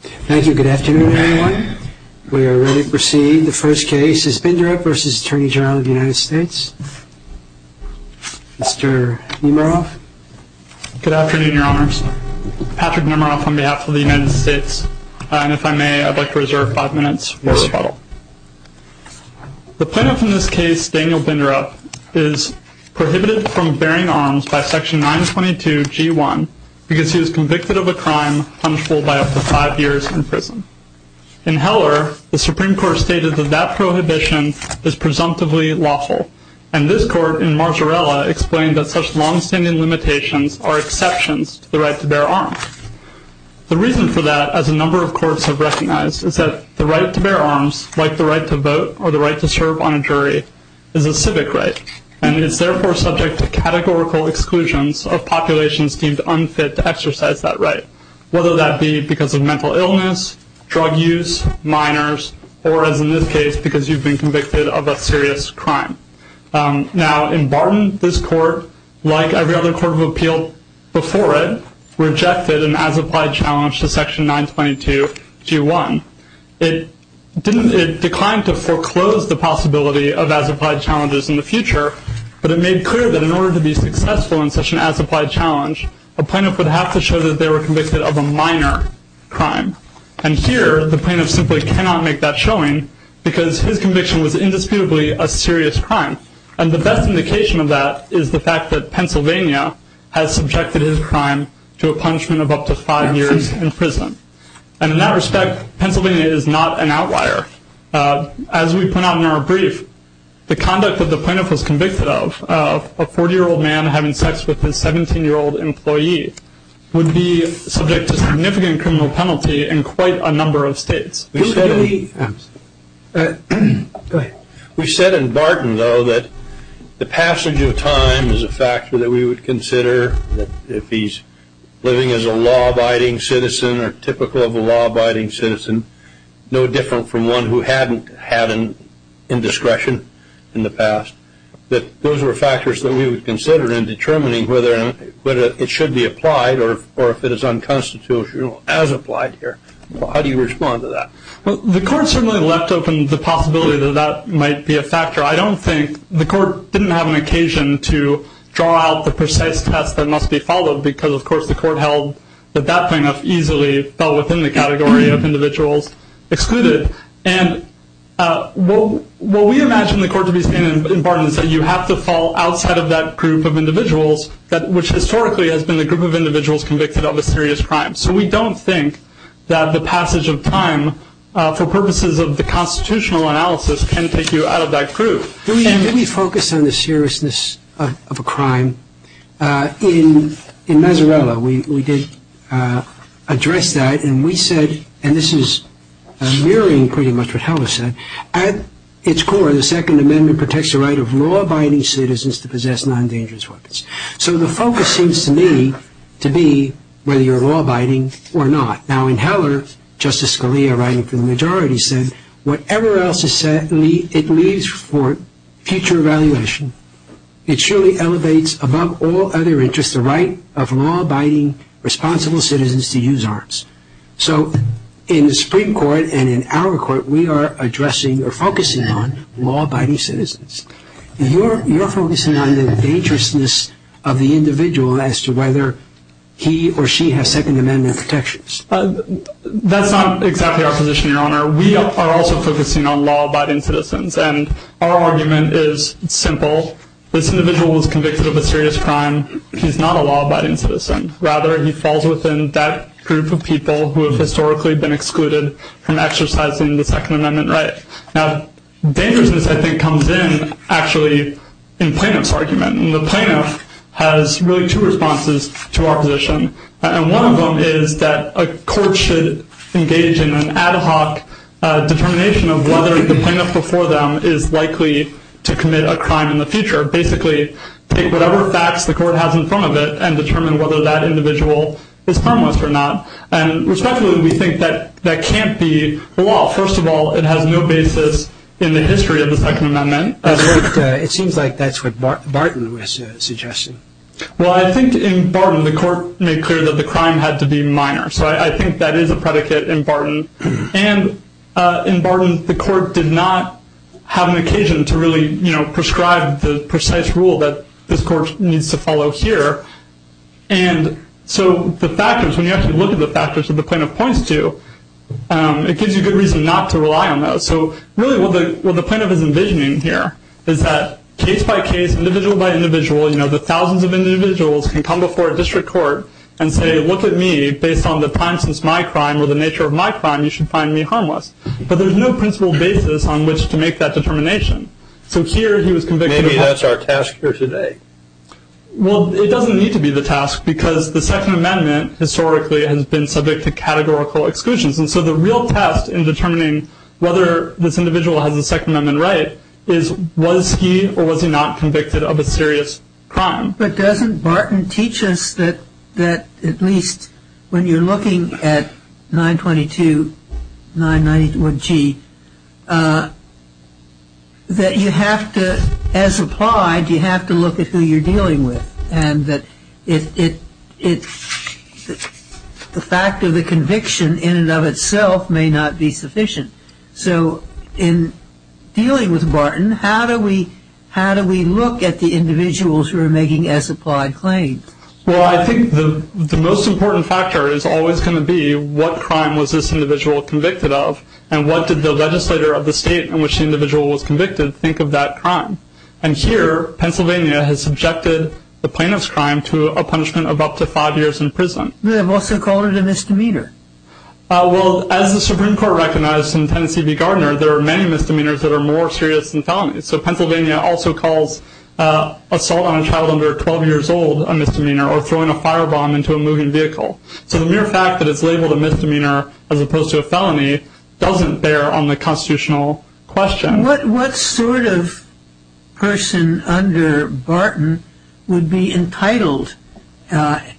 Thank you. Good afternoon, everyone. We are ready to proceed. The first case is Binderup v. Attorney General of the United States. Mr. Nemiroff. Good afternoon, Your Honors. Patrick Nemiroff on behalf of the United States. And if I may, I'd like to reserve five minutes for rebuttal. The plaintiff in this case, Daniel Binderup, is prohibited from bearing arms by Section 922.g.1 because he was convicted of a crime punishable by up to five years in prison. In Heller, the Supreme Court stated that that prohibition is presumptively lawful. And this court in Marzarella explained that such longstanding limitations are exceptions to the right to bear arms. The reason for that, as a number of courts have recognized, is that the right to bear arms, like the right to vote or the right to serve on a jury, is a civic right and is, therefore, subject to categorical exclusions of populations deemed unfit to exercise that right, whether that be because of mental illness, drug use, minors, or, as in this case, because you've been convicted of a serious crime. Now, in Barton, this court, like every other court of appeal before it, rejected an as-applied challenge to Section 922.g.1. It declined to foreclose the possibility of as-applied challenges in the future, but it made clear that in order to be successful in such an as-applied challenge, a plaintiff would have to show that they were convicted of a minor crime. And here, the plaintiff simply cannot make that showing because his conviction was indisputably a serious crime. And the best indication of that is the fact that Pennsylvania has subjected his crime to a punishment of up to five years in prison. And in that respect, Pennsylvania is not an outlier. As we put out in our brief, the conduct that the plaintiff was convicted of, a 40-year-old man having sex with his 17-year-old employee, would be subject to significant criminal penalty in quite a number of states. Go ahead. We said in Barton, though, that the passage of time is a factor that we would consider if he's living as a law-abiding citizen or typical of a law-abiding citizen, no different from one who hadn't had an indiscretion in the past, that those were factors that we would consider in determining whether it should be applied or if it is unconstitutional as applied here. How do you respond to that? Well, the Court certainly left open the possibility that that might be a factor. I don't think the Court didn't have an occasion to draw out the precise test that must be followed because, of course, the Court held that that plaintiff easily fell within the category of individuals excluded. And what we imagine the Court to be saying in Barton is that you have to fall outside of that group of individuals, which historically has been the group of individuals convicted of a serious crime. So we don't think that the passage of time, for instance, is a factor. Did we focus on the seriousness of a crime? In Mazarella, we did address that, and we said, and this is mirroring pretty much what Heller said, at its core, the Second Amendment protects the right of law-abiding citizens to possess non-dangerous weapons. So the focus seems to me to be whether you're law-abiding or not. Now, in Heller, Justice Scalia, writing for the majority, said, whatever else is said, it leaves for future evaluation. It surely elevates, above all other interests, the right of law-abiding, responsible citizens to use arms. So in the Supreme Court and in our Court, we are addressing or focusing on law-abiding citizens. You're focusing on the dangerousness of the individual as to whether he or she has Second Amendment protections. That's not exactly our position, Your Honor. We are also focusing on law-abiding citizens. And our argument is simple. This individual was convicted of a serious crime. He's not a law-abiding citizen. Rather, he falls within that group of people who have historically been excluded from exercising the Second Amendment right. Now, dangerousness, I think, comes in, actually, in Plaintiff's argument. And the Plaintiff has really two responses to our position. And one of them is that a court should engage in an ad hoc determination of whether the plaintiff before them is likely to commit a crime in the future. Basically, take whatever facts the court has in front of it and determine whether that individual is harmless or not. And respectfully, we think that that can't be the law. First of all, it has no basis in the history of the Second Amendment. It seems like that's what Barton was suggesting. Well, I think in Barton, the court made clear that the crime had to be minor. So I think that is a predicate in Barton. And in Barton, the court did not have an occasion to really prescribe the precise rule that this court needs to follow here. And so the factors, when you actually look at the factors that the Plaintiff points to, it gives you good reason not to rely on those. So really, what the Plaintiff is envisioning here is that case by case, individual by individual, the thousands of individuals can come before a district court and say, look at me, based on the time since my crime or the nature of my crime, you should find me harmless. But there's no principled basis on which to make that determination. So here, he was convicted of... Maybe that's our task for today. Well, it doesn't need to be the task because the Second Amendment historically has been subject to categorical exclusions. And so the real test in determining whether this individual has the But doesn't Barton teach us that at least when you're looking at 922-991-G, that you have to, as applied, you have to look at who you're dealing with. And that the fact of the conviction in and of Well, I think the most important factor is always going to be what crime was this individual convicted of and what did the legislator of the state in which the individual was convicted think of that crime. And here, Pennsylvania has subjected the Plaintiff's crime to a punishment of up to five years in prison. But they've also called it a misdemeanor. Well, as the Supreme Court recognized in Tennessee v. Gardner, there are many misdemeanors that are more assault on a child under 12 years old, a misdemeanor, or throwing a firebomb into a moving vehicle. So the mere fact that it's labeled a misdemeanor as opposed to a felony doesn't bear on the constitutional question. What sort of person under Barton would be entitled in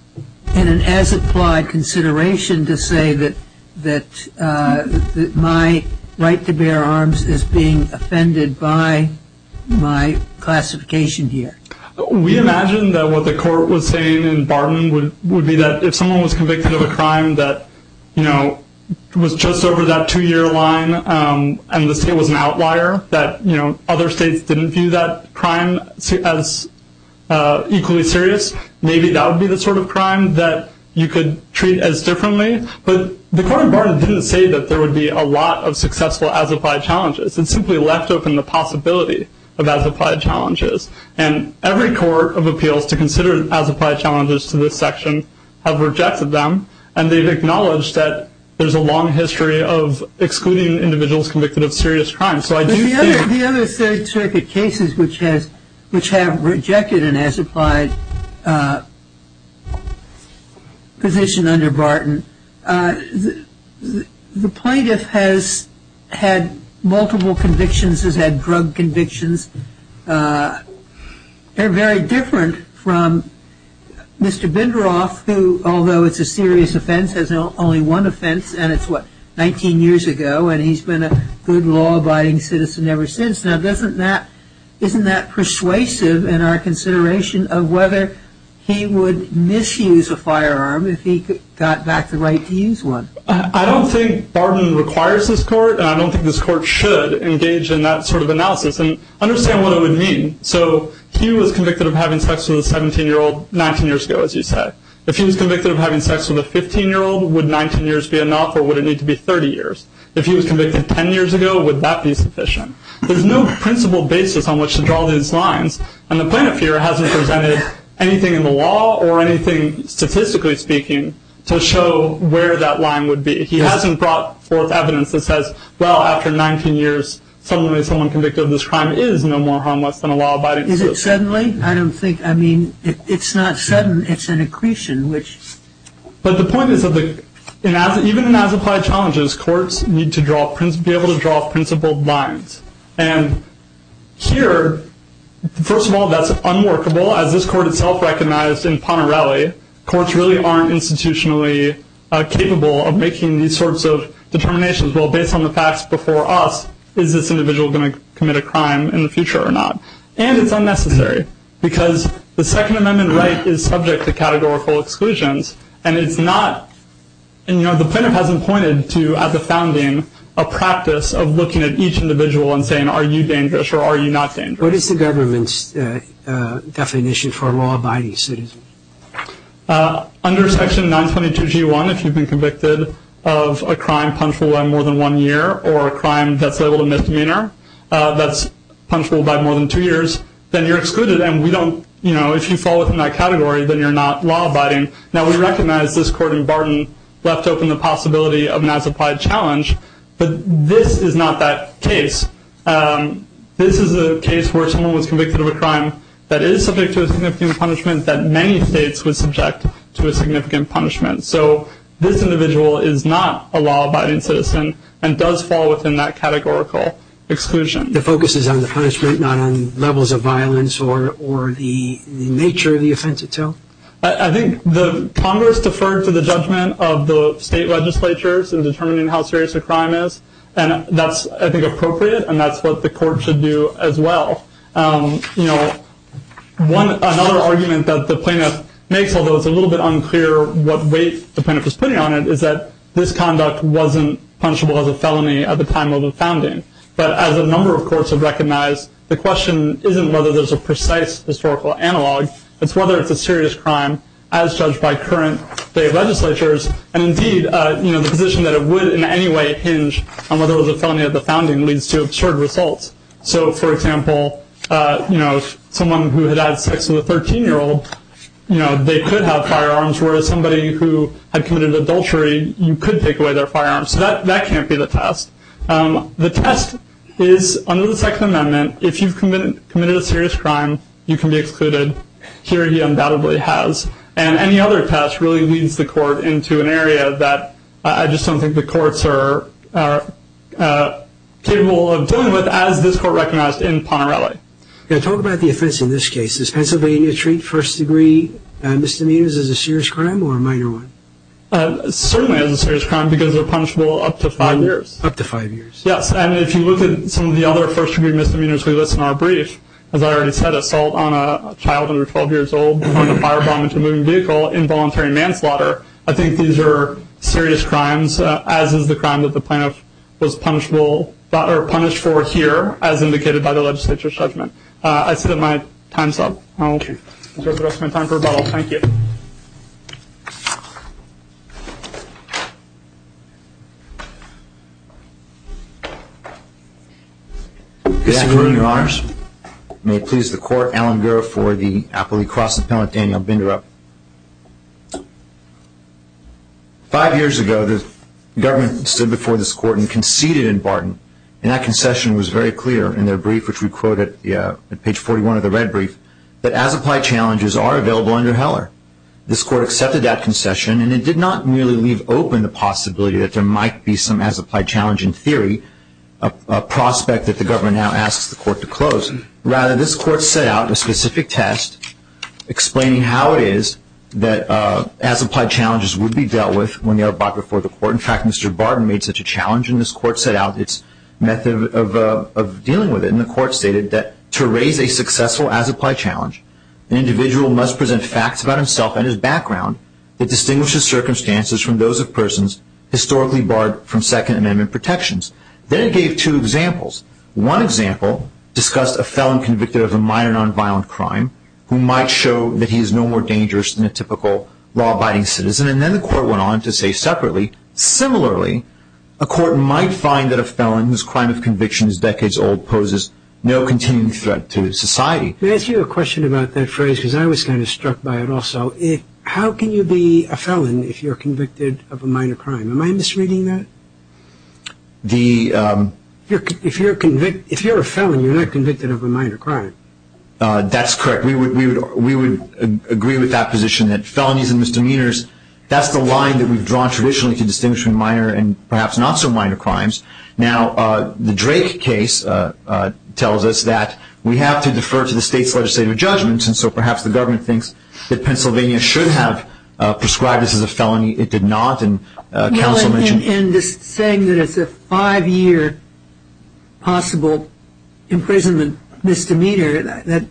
an as-applied consideration to say that my right to bear arms is being offended by my classification here? We imagine that what the court was saying in Barton would be that if someone was convicted of a crime that, you know, was just over that two-year line and the state was an outlier, that, you know, other states didn't view that crime as equally serious, maybe that would be the sort of crime that you could treat as differently. But the court in Barton didn't say that there would be a lot of successful as-applied challenges. It simply left open the possibility of as-applied challenges. And every court of appeals to consider as-applied challenges to this section have rejected them, and they've acknowledged that there's a long history of excluding individuals convicted of serious crimes. The other third circuit cases which have rejected an as-applied position under Barton, the plaintiff has had multiple convictions, has had drug convictions. They're very different from Mr. Binderof, who, although it's a serious offense, has only one offense, and it's what, 19 years ago, and he's been a good law-abiding citizen ever since. Now, isn't that persuasive in our consideration of whether he would misuse a firearm if he got back the right to use one? I don't think Barton requires this court, and I don't think this court should engage in that sort of analysis. And understand what it would mean. So he was convicted of having sex with a 17-year-old 19 years ago, as you say. If he was convicted of having sex with a 15-year-old, would 19 years be enough, or would it need to be 30 years? If he was convicted 10 years ago, would that be sufficient? There's no principle basis on which to draw these lines, and the plaintiff here hasn't presented anything in the law or anything statistically speaking to show where that line would be. He hasn't brought forth evidence that says, well, after 19 years, suddenly someone convicted of this crime is no more harmless than a law-abiding citizen. Is it suddenly? I don't think – I mean, it's not sudden. It's an accretion, which – But the point is that even in as-applied challenges, courts need to be able to draw principled lines. And here, first of all, that's unworkable. As this court itself recognized in Ponterelli, courts really aren't institutionally capable of making these sorts of determinations. Well, based on the facts before us, is this individual going to commit a crime in the future or not? And it's unnecessary because the Second Amendment right is subject to categorical exclusions, and it's not – and, you know, the plaintiff hasn't pointed to, at the founding, a practice of looking at each individual and saying, are you dangerous or are you not dangerous? What is the government's definition for a law-abiding citizen? Under Section 922G1, if you've been convicted of a crime punishable by more than one year or a crime that's labeled a misdemeanor that's punishable by more than two years, then you're excluded and we don't – you know, if you fall within that category, then you're not law-abiding. Now, we recognize this court in Barton left open the possibility of an as-applied challenge, but this is not that case. This is a case where someone was convicted of a crime that is subject to a significant punishment that many states would subject to a significant punishment. So this individual is not a law-abiding citizen and does fall within that categorical exclusion. The focus is on the punishment, not on levels of violence or the nature of the offense itself? I think the Congress deferred to the judgment of the state legislatures in determining how serious a crime is, and that's, I think, appropriate, and that's what the court should do as well. You know, another argument that the plaintiff makes, although it's a little bit unclear what weight the plaintiff is putting on it, is that this conduct wasn't punishable as a felony at the time of the founding. But as a number of courts have recognized, the question isn't whether there's a precise historical analog, it's whether it's a serious crime as judged by current state legislatures, and indeed, you know, the position that it would in any way hinge on whether it was a felony at the founding leads to absurd results. So, for example, you know, someone who had had sex with a 13-year-old, you know, they could have firearms, whereas somebody who had committed adultery, you could take away their firearms. So that can't be the test. The test is under the Second Amendment, if you've committed a serious crime, you can be excluded. Here he undoubtedly has. And any other test really leads the court into an area that I just don't think the courts are capable of dealing with, as this court recognized in Ponerelli. Yeah, talk about the offense in this case. Does Pennsylvania treat first-degree misdemeanors as a serious crime or a minor one? Certainly as a serious crime, because they're punishable up to five years. Up to five years. Yes, and if you look at some of the other first-degree misdemeanors we list in our brief, as I already said, assault on a child under 12 years old, putting a firebomb into a moving vehicle, involuntary manslaughter, I think these are serious crimes, as is the crime that the plaintiff was punished for here, as indicated by the legislature's judgment. I see that my time's up. Okay. I'm going to spend time for rebuttal. Thank you. Good afternoon, Your Honors. May it please the Court, Alan Gura for the Appellee Cross-Appellant, Daniel Binderup. Five years ago, the government stood before this court and conceded in Barton, and that concession was very clear in their brief, which we quote at page 41 of the red brief, that as-applied challenges are available under Heller. This court accepted that concession, and it did not merely leave open the possibility that there might be some as-applied challenge in theory, a prospect that the government now asks the court to close. Rather, this court set out a specific test explaining how it is that as-applied challenges would be dealt with when they are brought before the court. In fact, Mr. Barton made such a challenge in this court, and the court set out its method of dealing with it, and the court stated that to raise a successful as-applied challenge, an individual must present facts about himself and his background that distinguishes circumstances from those of persons historically barred from Second Amendment protections. Then it gave two examples. One example discussed a felon convicted of a minor nonviolent crime who might show that he is no more dangerous than a typical law-abiding citizen, and then the court went on to say separately, similarly, a court might find that a felon whose crime of conviction is decades old poses no continuing threat to society. May I ask you a question about that phrase, because I was kind of struck by it also? How can you be a felon if you're convicted of a minor crime? Am I misreading that? If you're a felon, you're not convicted of a minor crime. That's correct. We would agree with that position that felonies and misdemeanors, that's the line that we've drawn traditionally to distinguish between minor and perhaps not so minor crimes. Now, the Drake case tells us that we have to defer to the state's legislative judgments, and so perhaps the government thinks that Pennsylvania should have prescribed us as a felony. It did not, and counsel mentioned it. Well, in saying that it's a five-year possible imprisonment misdemeanor, that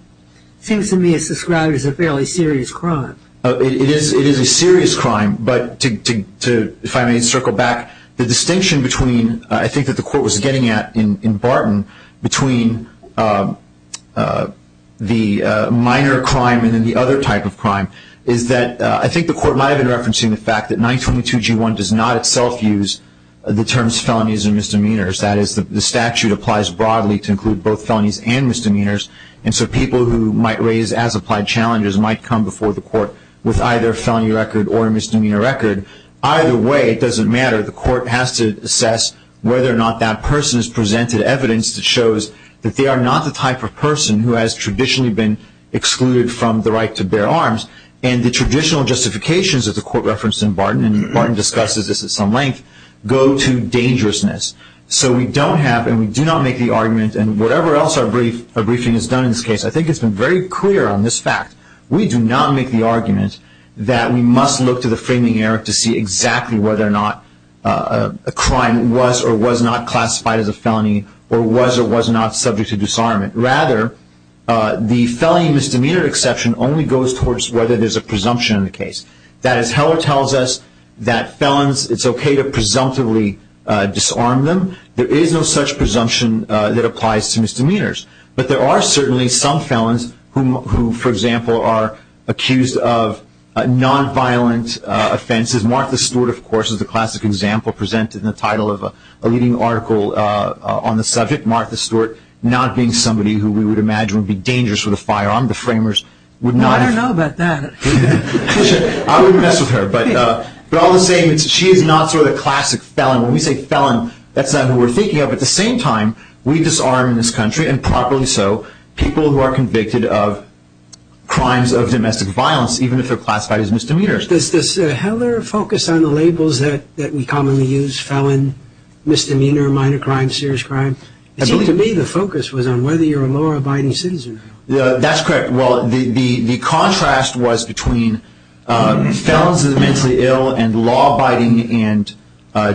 seems to me as described as a fairly serious crime. It is a serious crime, but if I may circle back, the distinction between, I think that the court was getting at in Barton, between the minor crime and then the other type of crime is that I think the court might have been referencing the fact that 922G1 does not itself use the terms felonies and misdemeanors. That is, the statute applies broadly to include both felonies and misdemeanors, and so people who might raise as-applied challenges might come before the court with either a felony record or a misdemeanor record. Either way, it doesn't matter. The court has to assess whether or not that person has presented evidence that shows that they are not the type of person who has traditionally been excluded from the right to bear arms, and the traditional justifications that the court referenced in Barton, and Barton discusses this at some length, go to dangerousness. So we don't have and we do not make the argument, and whatever else our briefing has done in this case, I think it's been very clear on this fact, we do not make the argument that we must look to the framing error to see exactly whether or not a crime was or was not classified as a felony or was or was not subject to disarmament. Rather, the felony misdemeanor exception only goes towards whether there's a presumption in the case. That is, Heller tells us that felons, it's okay to presumptively disarm them. There is no such presumption that applies to misdemeanors, but there are certainly some felons who, for example, are accused of nonviolent offenses. Martha Stewart, of course, is a classic example presented in the title of a leading article on the subject. Martha Stewart not being somebody who we would imagine would be dangerous with a firearm. The framers would not have- I wouldn't mess with her, but all the same, she is not sort of the classic felon. When we say felon, that's not who we're thinking of. At the same time, we disarm in this country, and properly so, people who are convicted of crimes of domestic violence, even if they're classified as misdemeanors. Does Heller focus on the labels that we commonly use, felon, misdemeanor, minor crime, serious crime? It seemed to me the focus was on whether you're a law-abiding citizen. That's correct. Well, the contrast was between felons as mentally ill and law-abiding and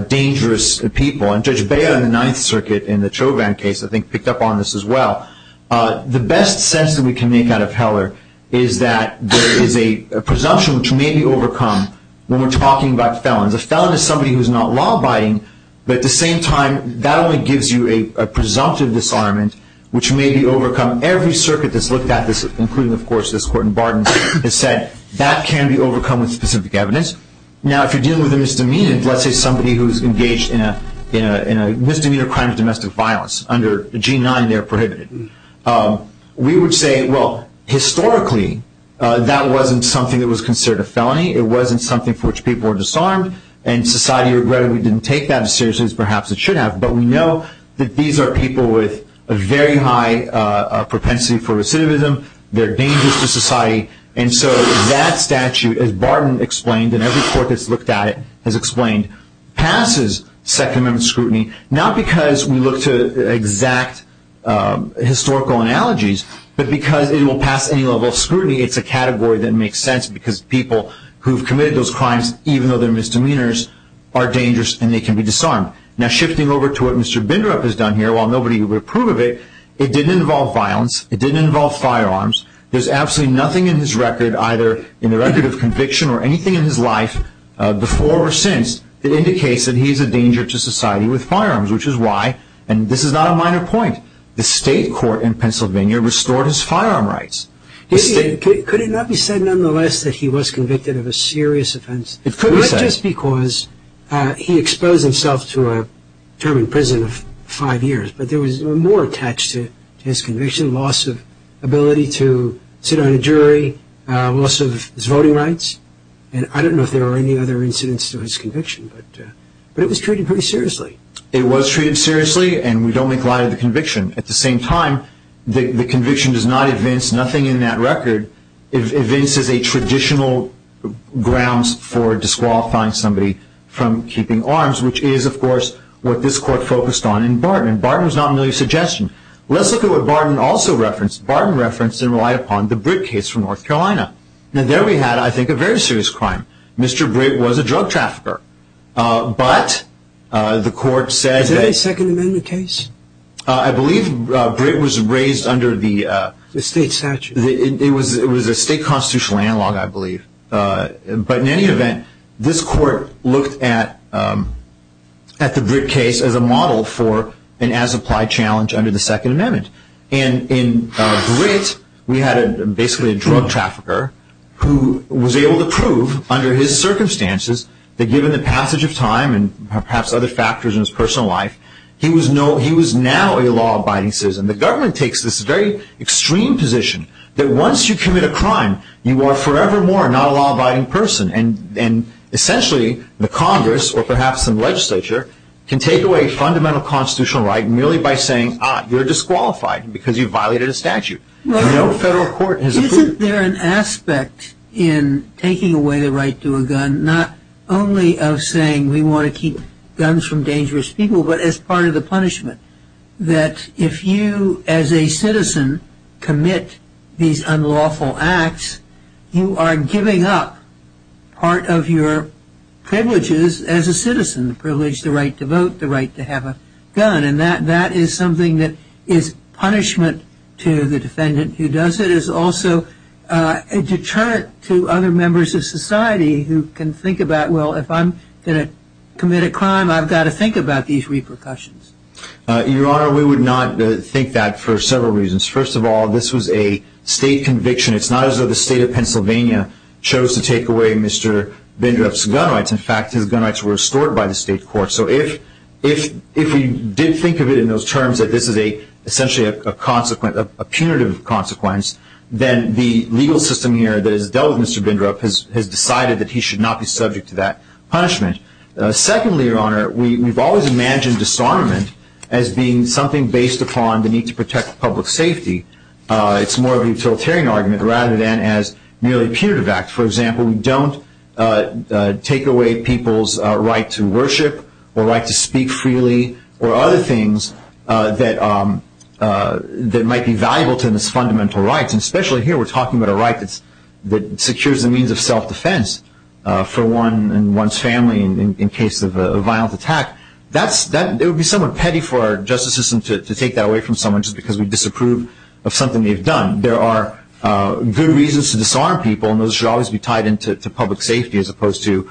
dangerous people. And Judge Beyer in the Ninth Circuit in the Chauvin case, I think, picked up on this as well. The best sense that we can make out of Heller is that there is a presumption which may be overcome when we're talking about felons. A felon is somebody who's not law-abiding, but at the same time, that only gives you a presumptive disarmament, which may be overcome. Every circuit that's looked at this, including, of course, this court in Barden, has said that can be overcome with specific evidence. Now, if you're dealing with a misdemeanor, let's say somebody who's engaged in a misdemeanor crime of domestic violence, under the G9, they're prohibited. We would say, well, historically, that wasn't something that was considered a felony. It wasn't something for which people were disarmed, and society regrettably didn't take that as seriously as perhaps it should have. But we know that these are people with a very high propensity for recidivism. They're dangerous to society. And so that statute, as Barden explained, and every court that's looked at it has explained, passes Second Amendment scrutiny, not because we look to exact historical analogies, but because it will pass any level of scrutiny. It's a category that makes sense because people who've committed those crimes, even though they're misdemeanors, are dangerous, and they can be disarmed. Now, shifting over to what Mr. Bindrup has done here, while nobody would approve of it, it didn't involve violence. It didn't involve firearms. There's absolutely nothing in his record, either in the record of conviction or anything in his life, before or since, that indicates that he's a danger to society with firearms, which is why, and this is not a minor point, the state court in Pennsylvania restored his firearm rights. Could it not be said, nonetheless, that he was convicted of a serious offense? It could be said. Just because he exposed himself to a term in prison of five years, but there was more attached to his conviction, loss of ability to sit on a jury, loss of his voting rights, and I don't know if there were any other incidents to his conviction, but it was treated pretty seriously. It was treated seriously, and we don't make light of the conviction. At the same time, the conviction does not evince nothing in that record. It evinces a traditional grounds for disqualifying somebody from keeping arms, which is, of course, what this court focused on in Barton. Barton was not merely a suggestion. Let's look at what Barton also referenced. Barton referenced and relied upon the Britt case from North Carolina. Now, there we had, I think, a very serious crime. Mr. Britt was a drug trafficker, but the court said that- Is that a Second Amendment case? I believe Britt was raised under the- The state statute. It was a state constitutional analog, I believe. But in any event, this court looked at the Britt case as a model for an as-applied challenge under the Second Amendment. And in Britt, we had basically a drug trafficker who was able to prove under his circumstances that given the passage of time and perhaps other factors in his personal life, he was now a law-abiding citizen. The government takes this very extreme position that once you commit a crime, you are forevermore not a law-abiding person. And essentially, the Congress, or perhaps some legislature, can take away fundamental constitutional right merely by saying, ah, you're disqualified because you violated a statute. No federal court has- Isn't there an aspect in taking away the right to a gun, not only of saying we want to keep guns from dangerous people, but as part of the punishment, that if you as a citizen commit these unlawful acts, you are giving up part of your privileges as a citizen, the privilege, the right to vote, the right to have a gun. And that is something that is punishment to the defendant who does it. It is also a deterrent to other members of society who can think about, well, if I'm going to commit a crime, I've got to think about these repercussions. Your Honor, we would not think that for several reasons. First of all, this was a state conviction. It's not as though the state of Pennsylvania chose to take away Mr. Bindrup's gun rights. In fact, his gun rights were restored by the state court. So if we did think of it in those terms that this is essentially a punitive consequence, then the legal system here that has dealt with Mr. Bindrup has decided that he should not be subject to that punishment. Secondly, Your Honor, we've always imagined disarmament as being something based upon the need to protect public safety. It's more of a utilitarian argument rather than as merely a punitive act. For example, we don't take away people's right to worship or right to speak freely or other things that might be valuable to this fundamental right. And especially here, we're talking about a right that secures the means of self-defense for one and one's family in case of a violent attack. It would be somewhat petty for our justice system to take that away from someone just because we disapprove of something they've done. There are good reasons to disarm people, and those should always be tied into public safety as opposed to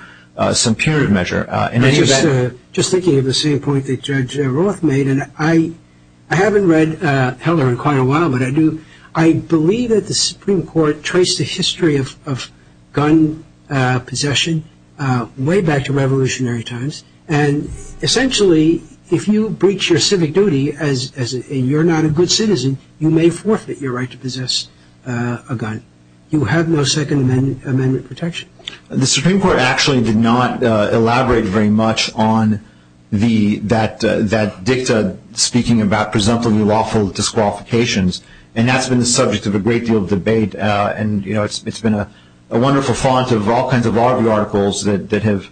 some period measure. Just thinking of the same point that Judge Roth made, I haven't read Heller in quite a while, but I believe that the Supreme Court traced the history of gun possession way back to revolutionary times. And essentially, if you breach your civic duty and you're not a good citizen, you may forfeit your right to possess a gun. You have no Second Amendment protection. The Supreme Court actually did not elaborate very much on that dicta speaking about presumptively lawful disqualifications, and that's been the subject of a great deal of debate. It's been a wonderful font of all kinds of law review articles that have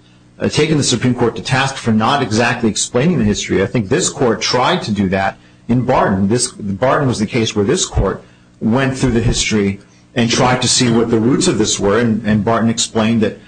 taken the Supreme Court to task for not exactly explaining the history. I think this Court tried to do that in Barton. Barton was the case where this Court went through the history and tried to see what the roots of this were, and Barton explained that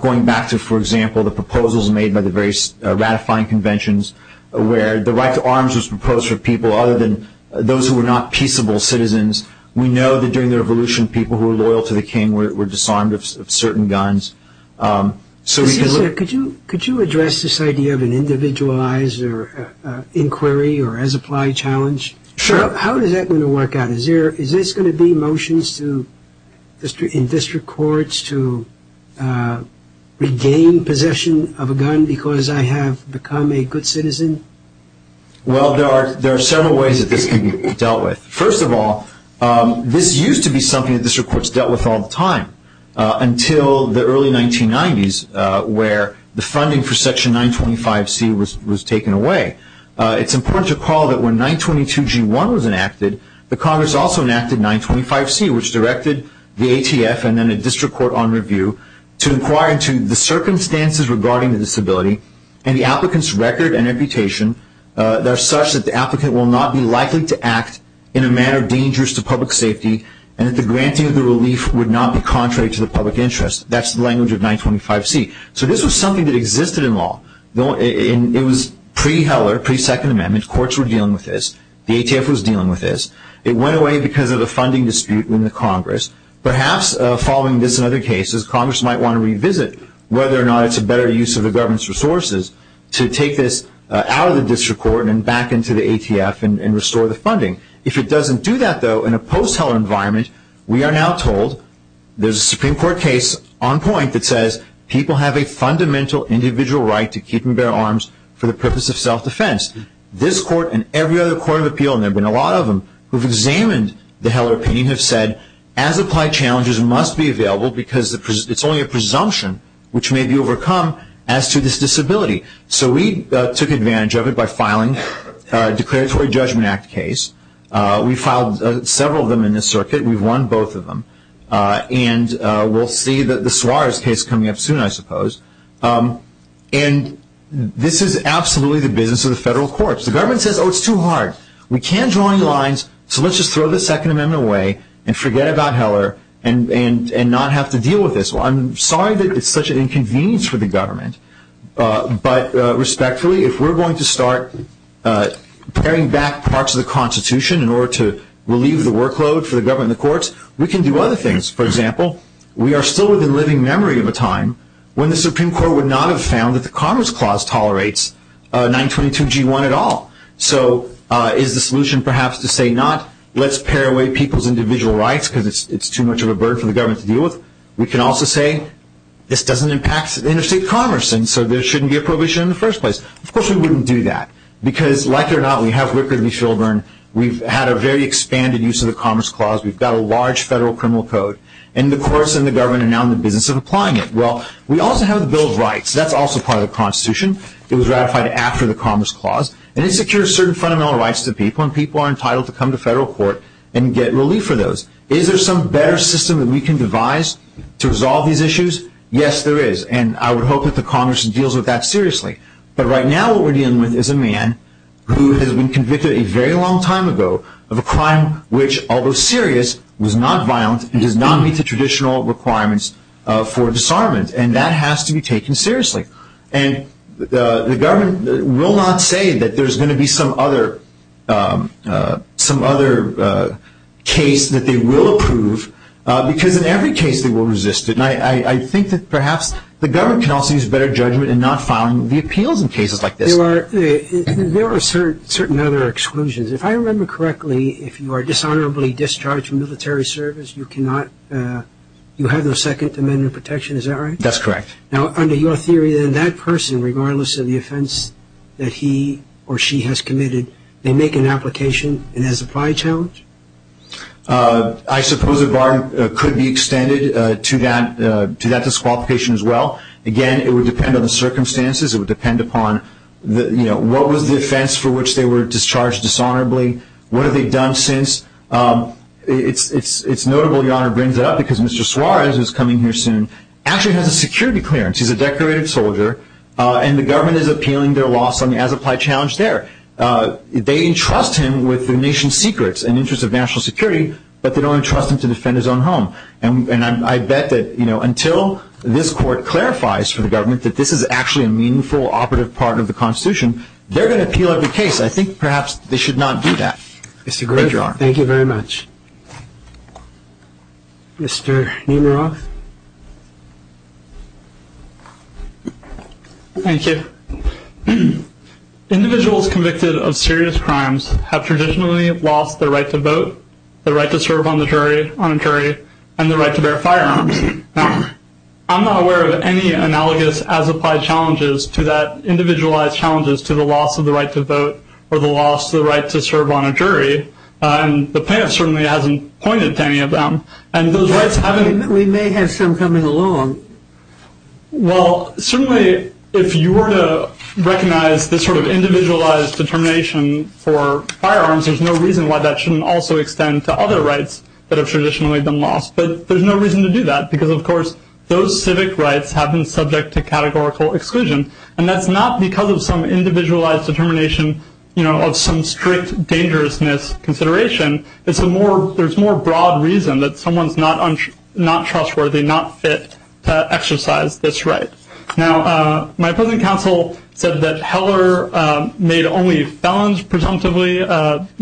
going back to, for example, the proposals made by the various ratifying conventions where the right to arms was proposed for people other than those who were not peaceable citizens, we know that during the Revolution people who were loyal to the king were disarmed of certain guns. Could you address this idea of an individualized inquiry or as-applied challenge? Sure. How is that going to work out? Is this going to be motions in district courts to regain possession of a gun because I have become a good citizen? Well, there are several ways that this can be dealt with. First of all, this used to be something that district courts dealt with all the time until the early 1990s where the funding for Section 925C was taken away. It's important to recall that when 922G1 was enacted, the Congress also enacted 925C, which directed the ATF and then a district court on review to inquire into the circumstances regarding the disability and the applicant's record and reputation that are such that the applicant will not be likely to act in a manner dangerous to public safety and that the granting of the relief would not be contrary to the public interest. That's the language of 925C. So this was something that existed in law. It was pre-Heller, pre-Second Amendment. Courts were dealing with this. The ATF was dealing with this. It went away because of the funding dispute in the Congress. Perhaps following this and other cases, Congress might want to revisit whether or not it's a better use of the government's resources to take this out of the district court and back into the ATF and restore the funding. If it doesn't do that, though, in a post-Heller environment, we are now told there's a Supreme Court case on point that says people have a fundamental individual right to keep and bear arms for the purpose of self-defense. This court and every other court of appeal, and there have been a lot of them who have examined the Heller opinion, have said as-applied challenges must be available because it's only a presumption which may be overcome as to this disability. So we took advantage of it by filing a Declaratory Judgment Act case. We filed several of them in this circuit. We've won both of them. And we'll see the Suarez case coming up soon, I suppose. And this is absolutely the business of the federal courts. The government says, oh, it's too hard. We can't draw any lines, so let's just throw the Second Amendment away and forget about Heller and not have to deal with this. Well, I'm sorry that it's such an inconvenience for the government, but respectfully, if we're going to start paring back parts of the Constitution in order to relieve the workload for the government and the courts, we can do other things. For example, we are still within living memory of a time when the Supreme Court would not have found that the Commerce Clause tolerates 922G1 at all. So is the solution perhaps to say not let's pare away people's individual rights because it's too much of a burden for the government to deal with? We can also say this doesn't impact interstate commerce, and so there shouldn't be a prohibition in the first place. Of course, we wouldn't do that because, like it or not, we have Rickard v. Shilburn. We've had a very expanded use of the Commerce Clause. We've got a large federal criminal code, and the courts and the government are now in the business of applying it. Well, we also have the Bill of Rights. That's also part of the Constitution. It was ratified after the Commerce Clause, and it secures certain fundamental rights to people, and people are entitled to come to federal court and get relief for those. Is there some better system that we can devise to resolve these issues? Yes, there is, and I would hope that the Congress deals with that seriously. But right now what we're dealing with is a man who has been convicted a very long time ago of a crime which, although serious, was not violent and does not meet the traditional requirements for disarmament, and that has to be taken seriously. And the government will not say that there's going to be some other case that they will approve because in every case they will resist it. And I think that perhaps the government can also use better judgment in not filing the appeals in cases like this. There are certain other exclusions. If I remember correctly, if you are dishonorably discharged from military service, you have no Second Amendment protection. Is that right? That's correct. Now, under your theory, then, that person, regardless of the offense that he or she has committed, they make an application and has applied challenge? I suppose a bar could be extended to that disqualification as well. Again, it would depend on the circumstances. It would depend upon what was the offense for which they were discharged dishonorably, what have they done since. It's notable your Honor brings it up because Mr. Suarez, who is coming here soon, actually has a security clearance. He's a decorated soldier, and the government is appealing their loss on the as-applied challenge there. They entrust him with the nation's secrets and interests of national security, but they don't entrust him to defend his own home. And I bet that until this Court clarifies for the government that this is actually a meaningful, operative part of the Constitution, they're going to appeal every case. I think perhaps they should not do that. Mr. Grager, thank you very much. Mr. Nemiroff? Thank you. Individuals convicted of serious crimes have traditionally lost their right to vote, their right to serve on a jury, and their right to bear firearms. Now, I'm not aware of any analogous as-applied challenges to that individualized challenges to the loss of the right to vote or the loss of the right to serve on a jury, and the plaintiff certainly hasn't pointed to any of them. We may have some coming along. Well, certainly if you were to recognize this sort of individualized determination for firearms, there's no reason why that shouldn't also extend to other rights that have traditionally been lost. But there's no reason to do that because, of course, those civic rights have been subject to categorical exclusion, and that's not because of some individualized determination of some strict dangerousness consideration. There's more broad reason that someone's not trustworthy, not fit to exercise this right. Now, my opposing counsel said that Heller made only felons presumptively, you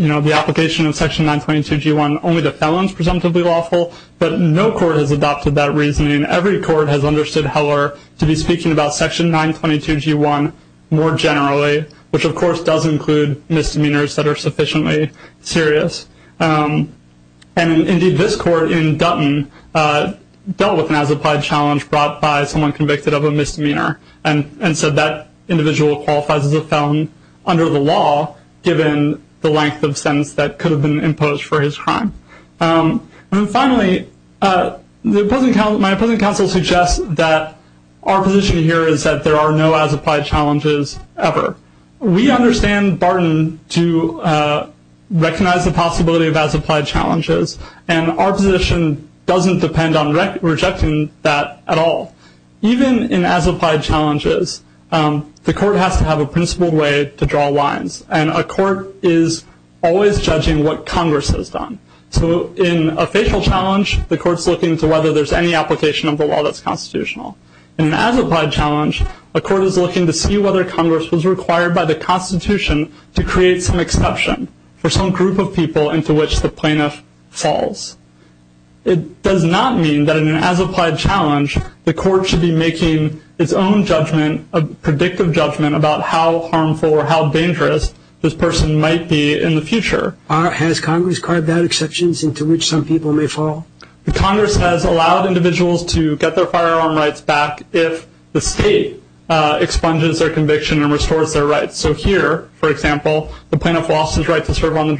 know, the application of Section 922G1 only the felons presumptively lawful, but no court has adopted that reasoning. Every court has understood Heller to be speaking about Section 922G1 more generally, which, of course, does include misdemeanors that are sufficiently serious. And, indeed, this court in Dutton dealt with an as-applied challenge brought by someone convicted of a misdemeanor, and so that individual qualifies as a felon under the law, given the length of sentence that could have been imposed for his crime. And, finally, my opposing counsel suggests that our position here is that there are no as-applied challenges ever. We understand Barton to recognize the possibility of as-applied challenges, and our position doesn't depend on rejecting that at all. Even in as-applied challenges, the court has to have a principled way to draw lines, and a court is always judging what Congress has done. So in a facial challenge, the court's looking to whether there's any application of the law that's constitutional. In an as-applied challenge, a court is looking to see whether Congress was required by the Constitution to create some exception for some group of people into which the plaintiff falls. It does not mean that in an as-applied challenge, the court should be making its own judgment, a predictive judgment about how harmful or how dangerous this person might be in the future. Has Congress carved out exceptions into which some people may fall? Congress has allowed individuals to get their firearm rights back if the state expunges their conviction and restores their rights. So here, for example, the plaintiff lost his right to serve on a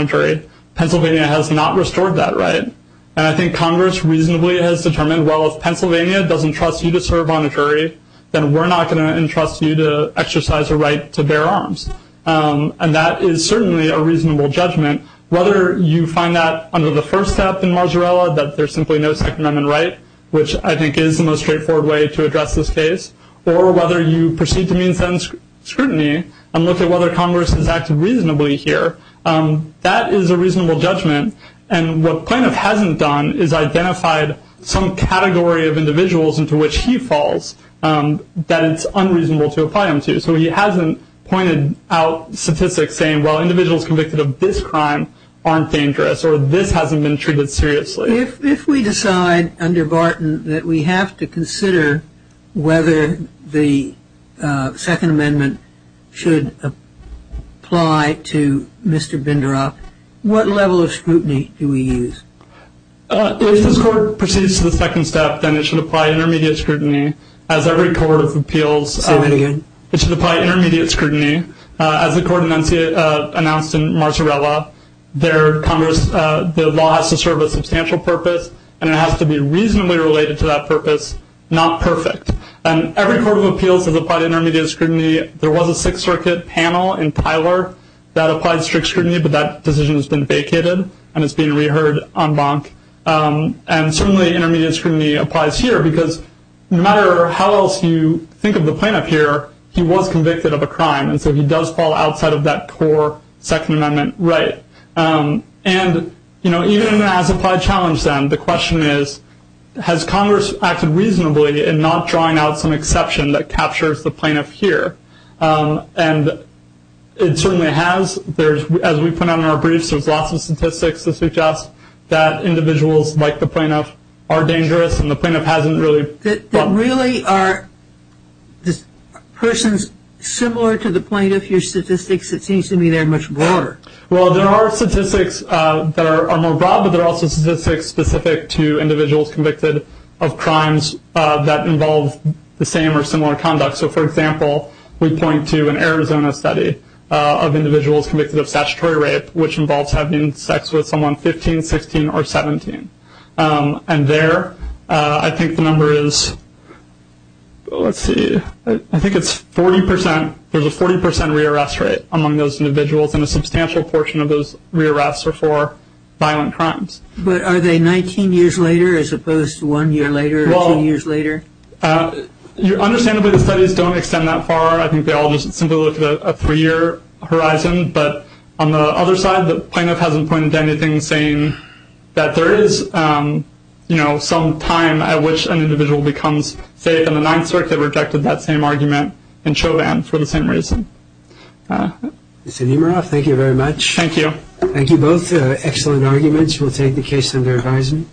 jury. Pennsylvania has not restored that right. And I think Congress reasonably has determined, well, if Pennsylvania doesn't trust you to serve on a jury, then we're not going to entrust you to exercise a right to bear arms. And that is certainly a reasonable judgment. Whether you find that under the first step in Marzarella, that there's simply no Second Amendment right, which I think is the most straightforward way to address this case, or whether you proceed to mean sentence scrutiny and look at whether Congress has acted reasonably here, that is a reasonable judgment. And what the plaintiff hasn't done is identified some category of individuals into which he falls that it's unreasonable to apply him to. So he hasn't pointed out statistics saying, well, individuals convicted of this crime aren't dangerous, or this hasn't been treated seriously. If we decide under Barton that we have to consider whether the Second Amendment should apply to Mr. Binderoff, what level of scrutiny do we use? If this Court proceeds to the second step, then it should apply intermediate scrutiny, as every court of appeals. Say that again. It should apply intermediate scrutiny. As the Court announced in Marzarella, the law has to serve a substantial purpose, and it has to be reasonably related to that purpose, not perfect. And every court of appeals has applied intermediate scrutiny. There was a Sixth Circuit panel in Tyler that applied strict scrutiny, but that decision has been vacated and is being reheard en banc. And certainly intermediate scrutiny applies here, because no matter how else you think of the plaintiff here, he was convicted of a crime, and so he does fall outside of that core Second Amendment right. And, you know, even if it hasn't quite challenged them, the question is, has Congress acted reasonably in not drawing out some exception that captures the plaintiff here? And it certainly has. As we put out in our briefs, there's lots of statistics that suggest that individuals like the plaintiff are dangerous, and the plaintiff hasn't really- That really are persons similar to the plaintiff. Your statistics, it seems to me, they're much broader. Well, there are statistics that are more broad, but there are also statistics specific to individuals convicted of crimes that involve the same or similar conduct. So, for example, we point to an Arizona study of individuals convicted of statutory rape, which involves having sex with someone 15, 16, or 17. And there, I think the number is, let's see, I think it's 40 percent. There's a 40 percent rearrest rate among those individuals, and a substantial portion of those rearrests are for violent crimes. But are they 19 years later as opposed to one year later or two years later? Well, understandably, the studies don't extend that far. I think they all just simply look at a three-year horizon. But on the other side, the plaintiff hasn't pointed to anything saying that there is, you know, some time at which an individual becomes safe. And the Ninth Circuit rejected that same argument in Chauvin for the same reason. Mr. Nemiroff, thank you very much. Thank you. Thank you both. Excellent arguments. We'll take the case under advisement.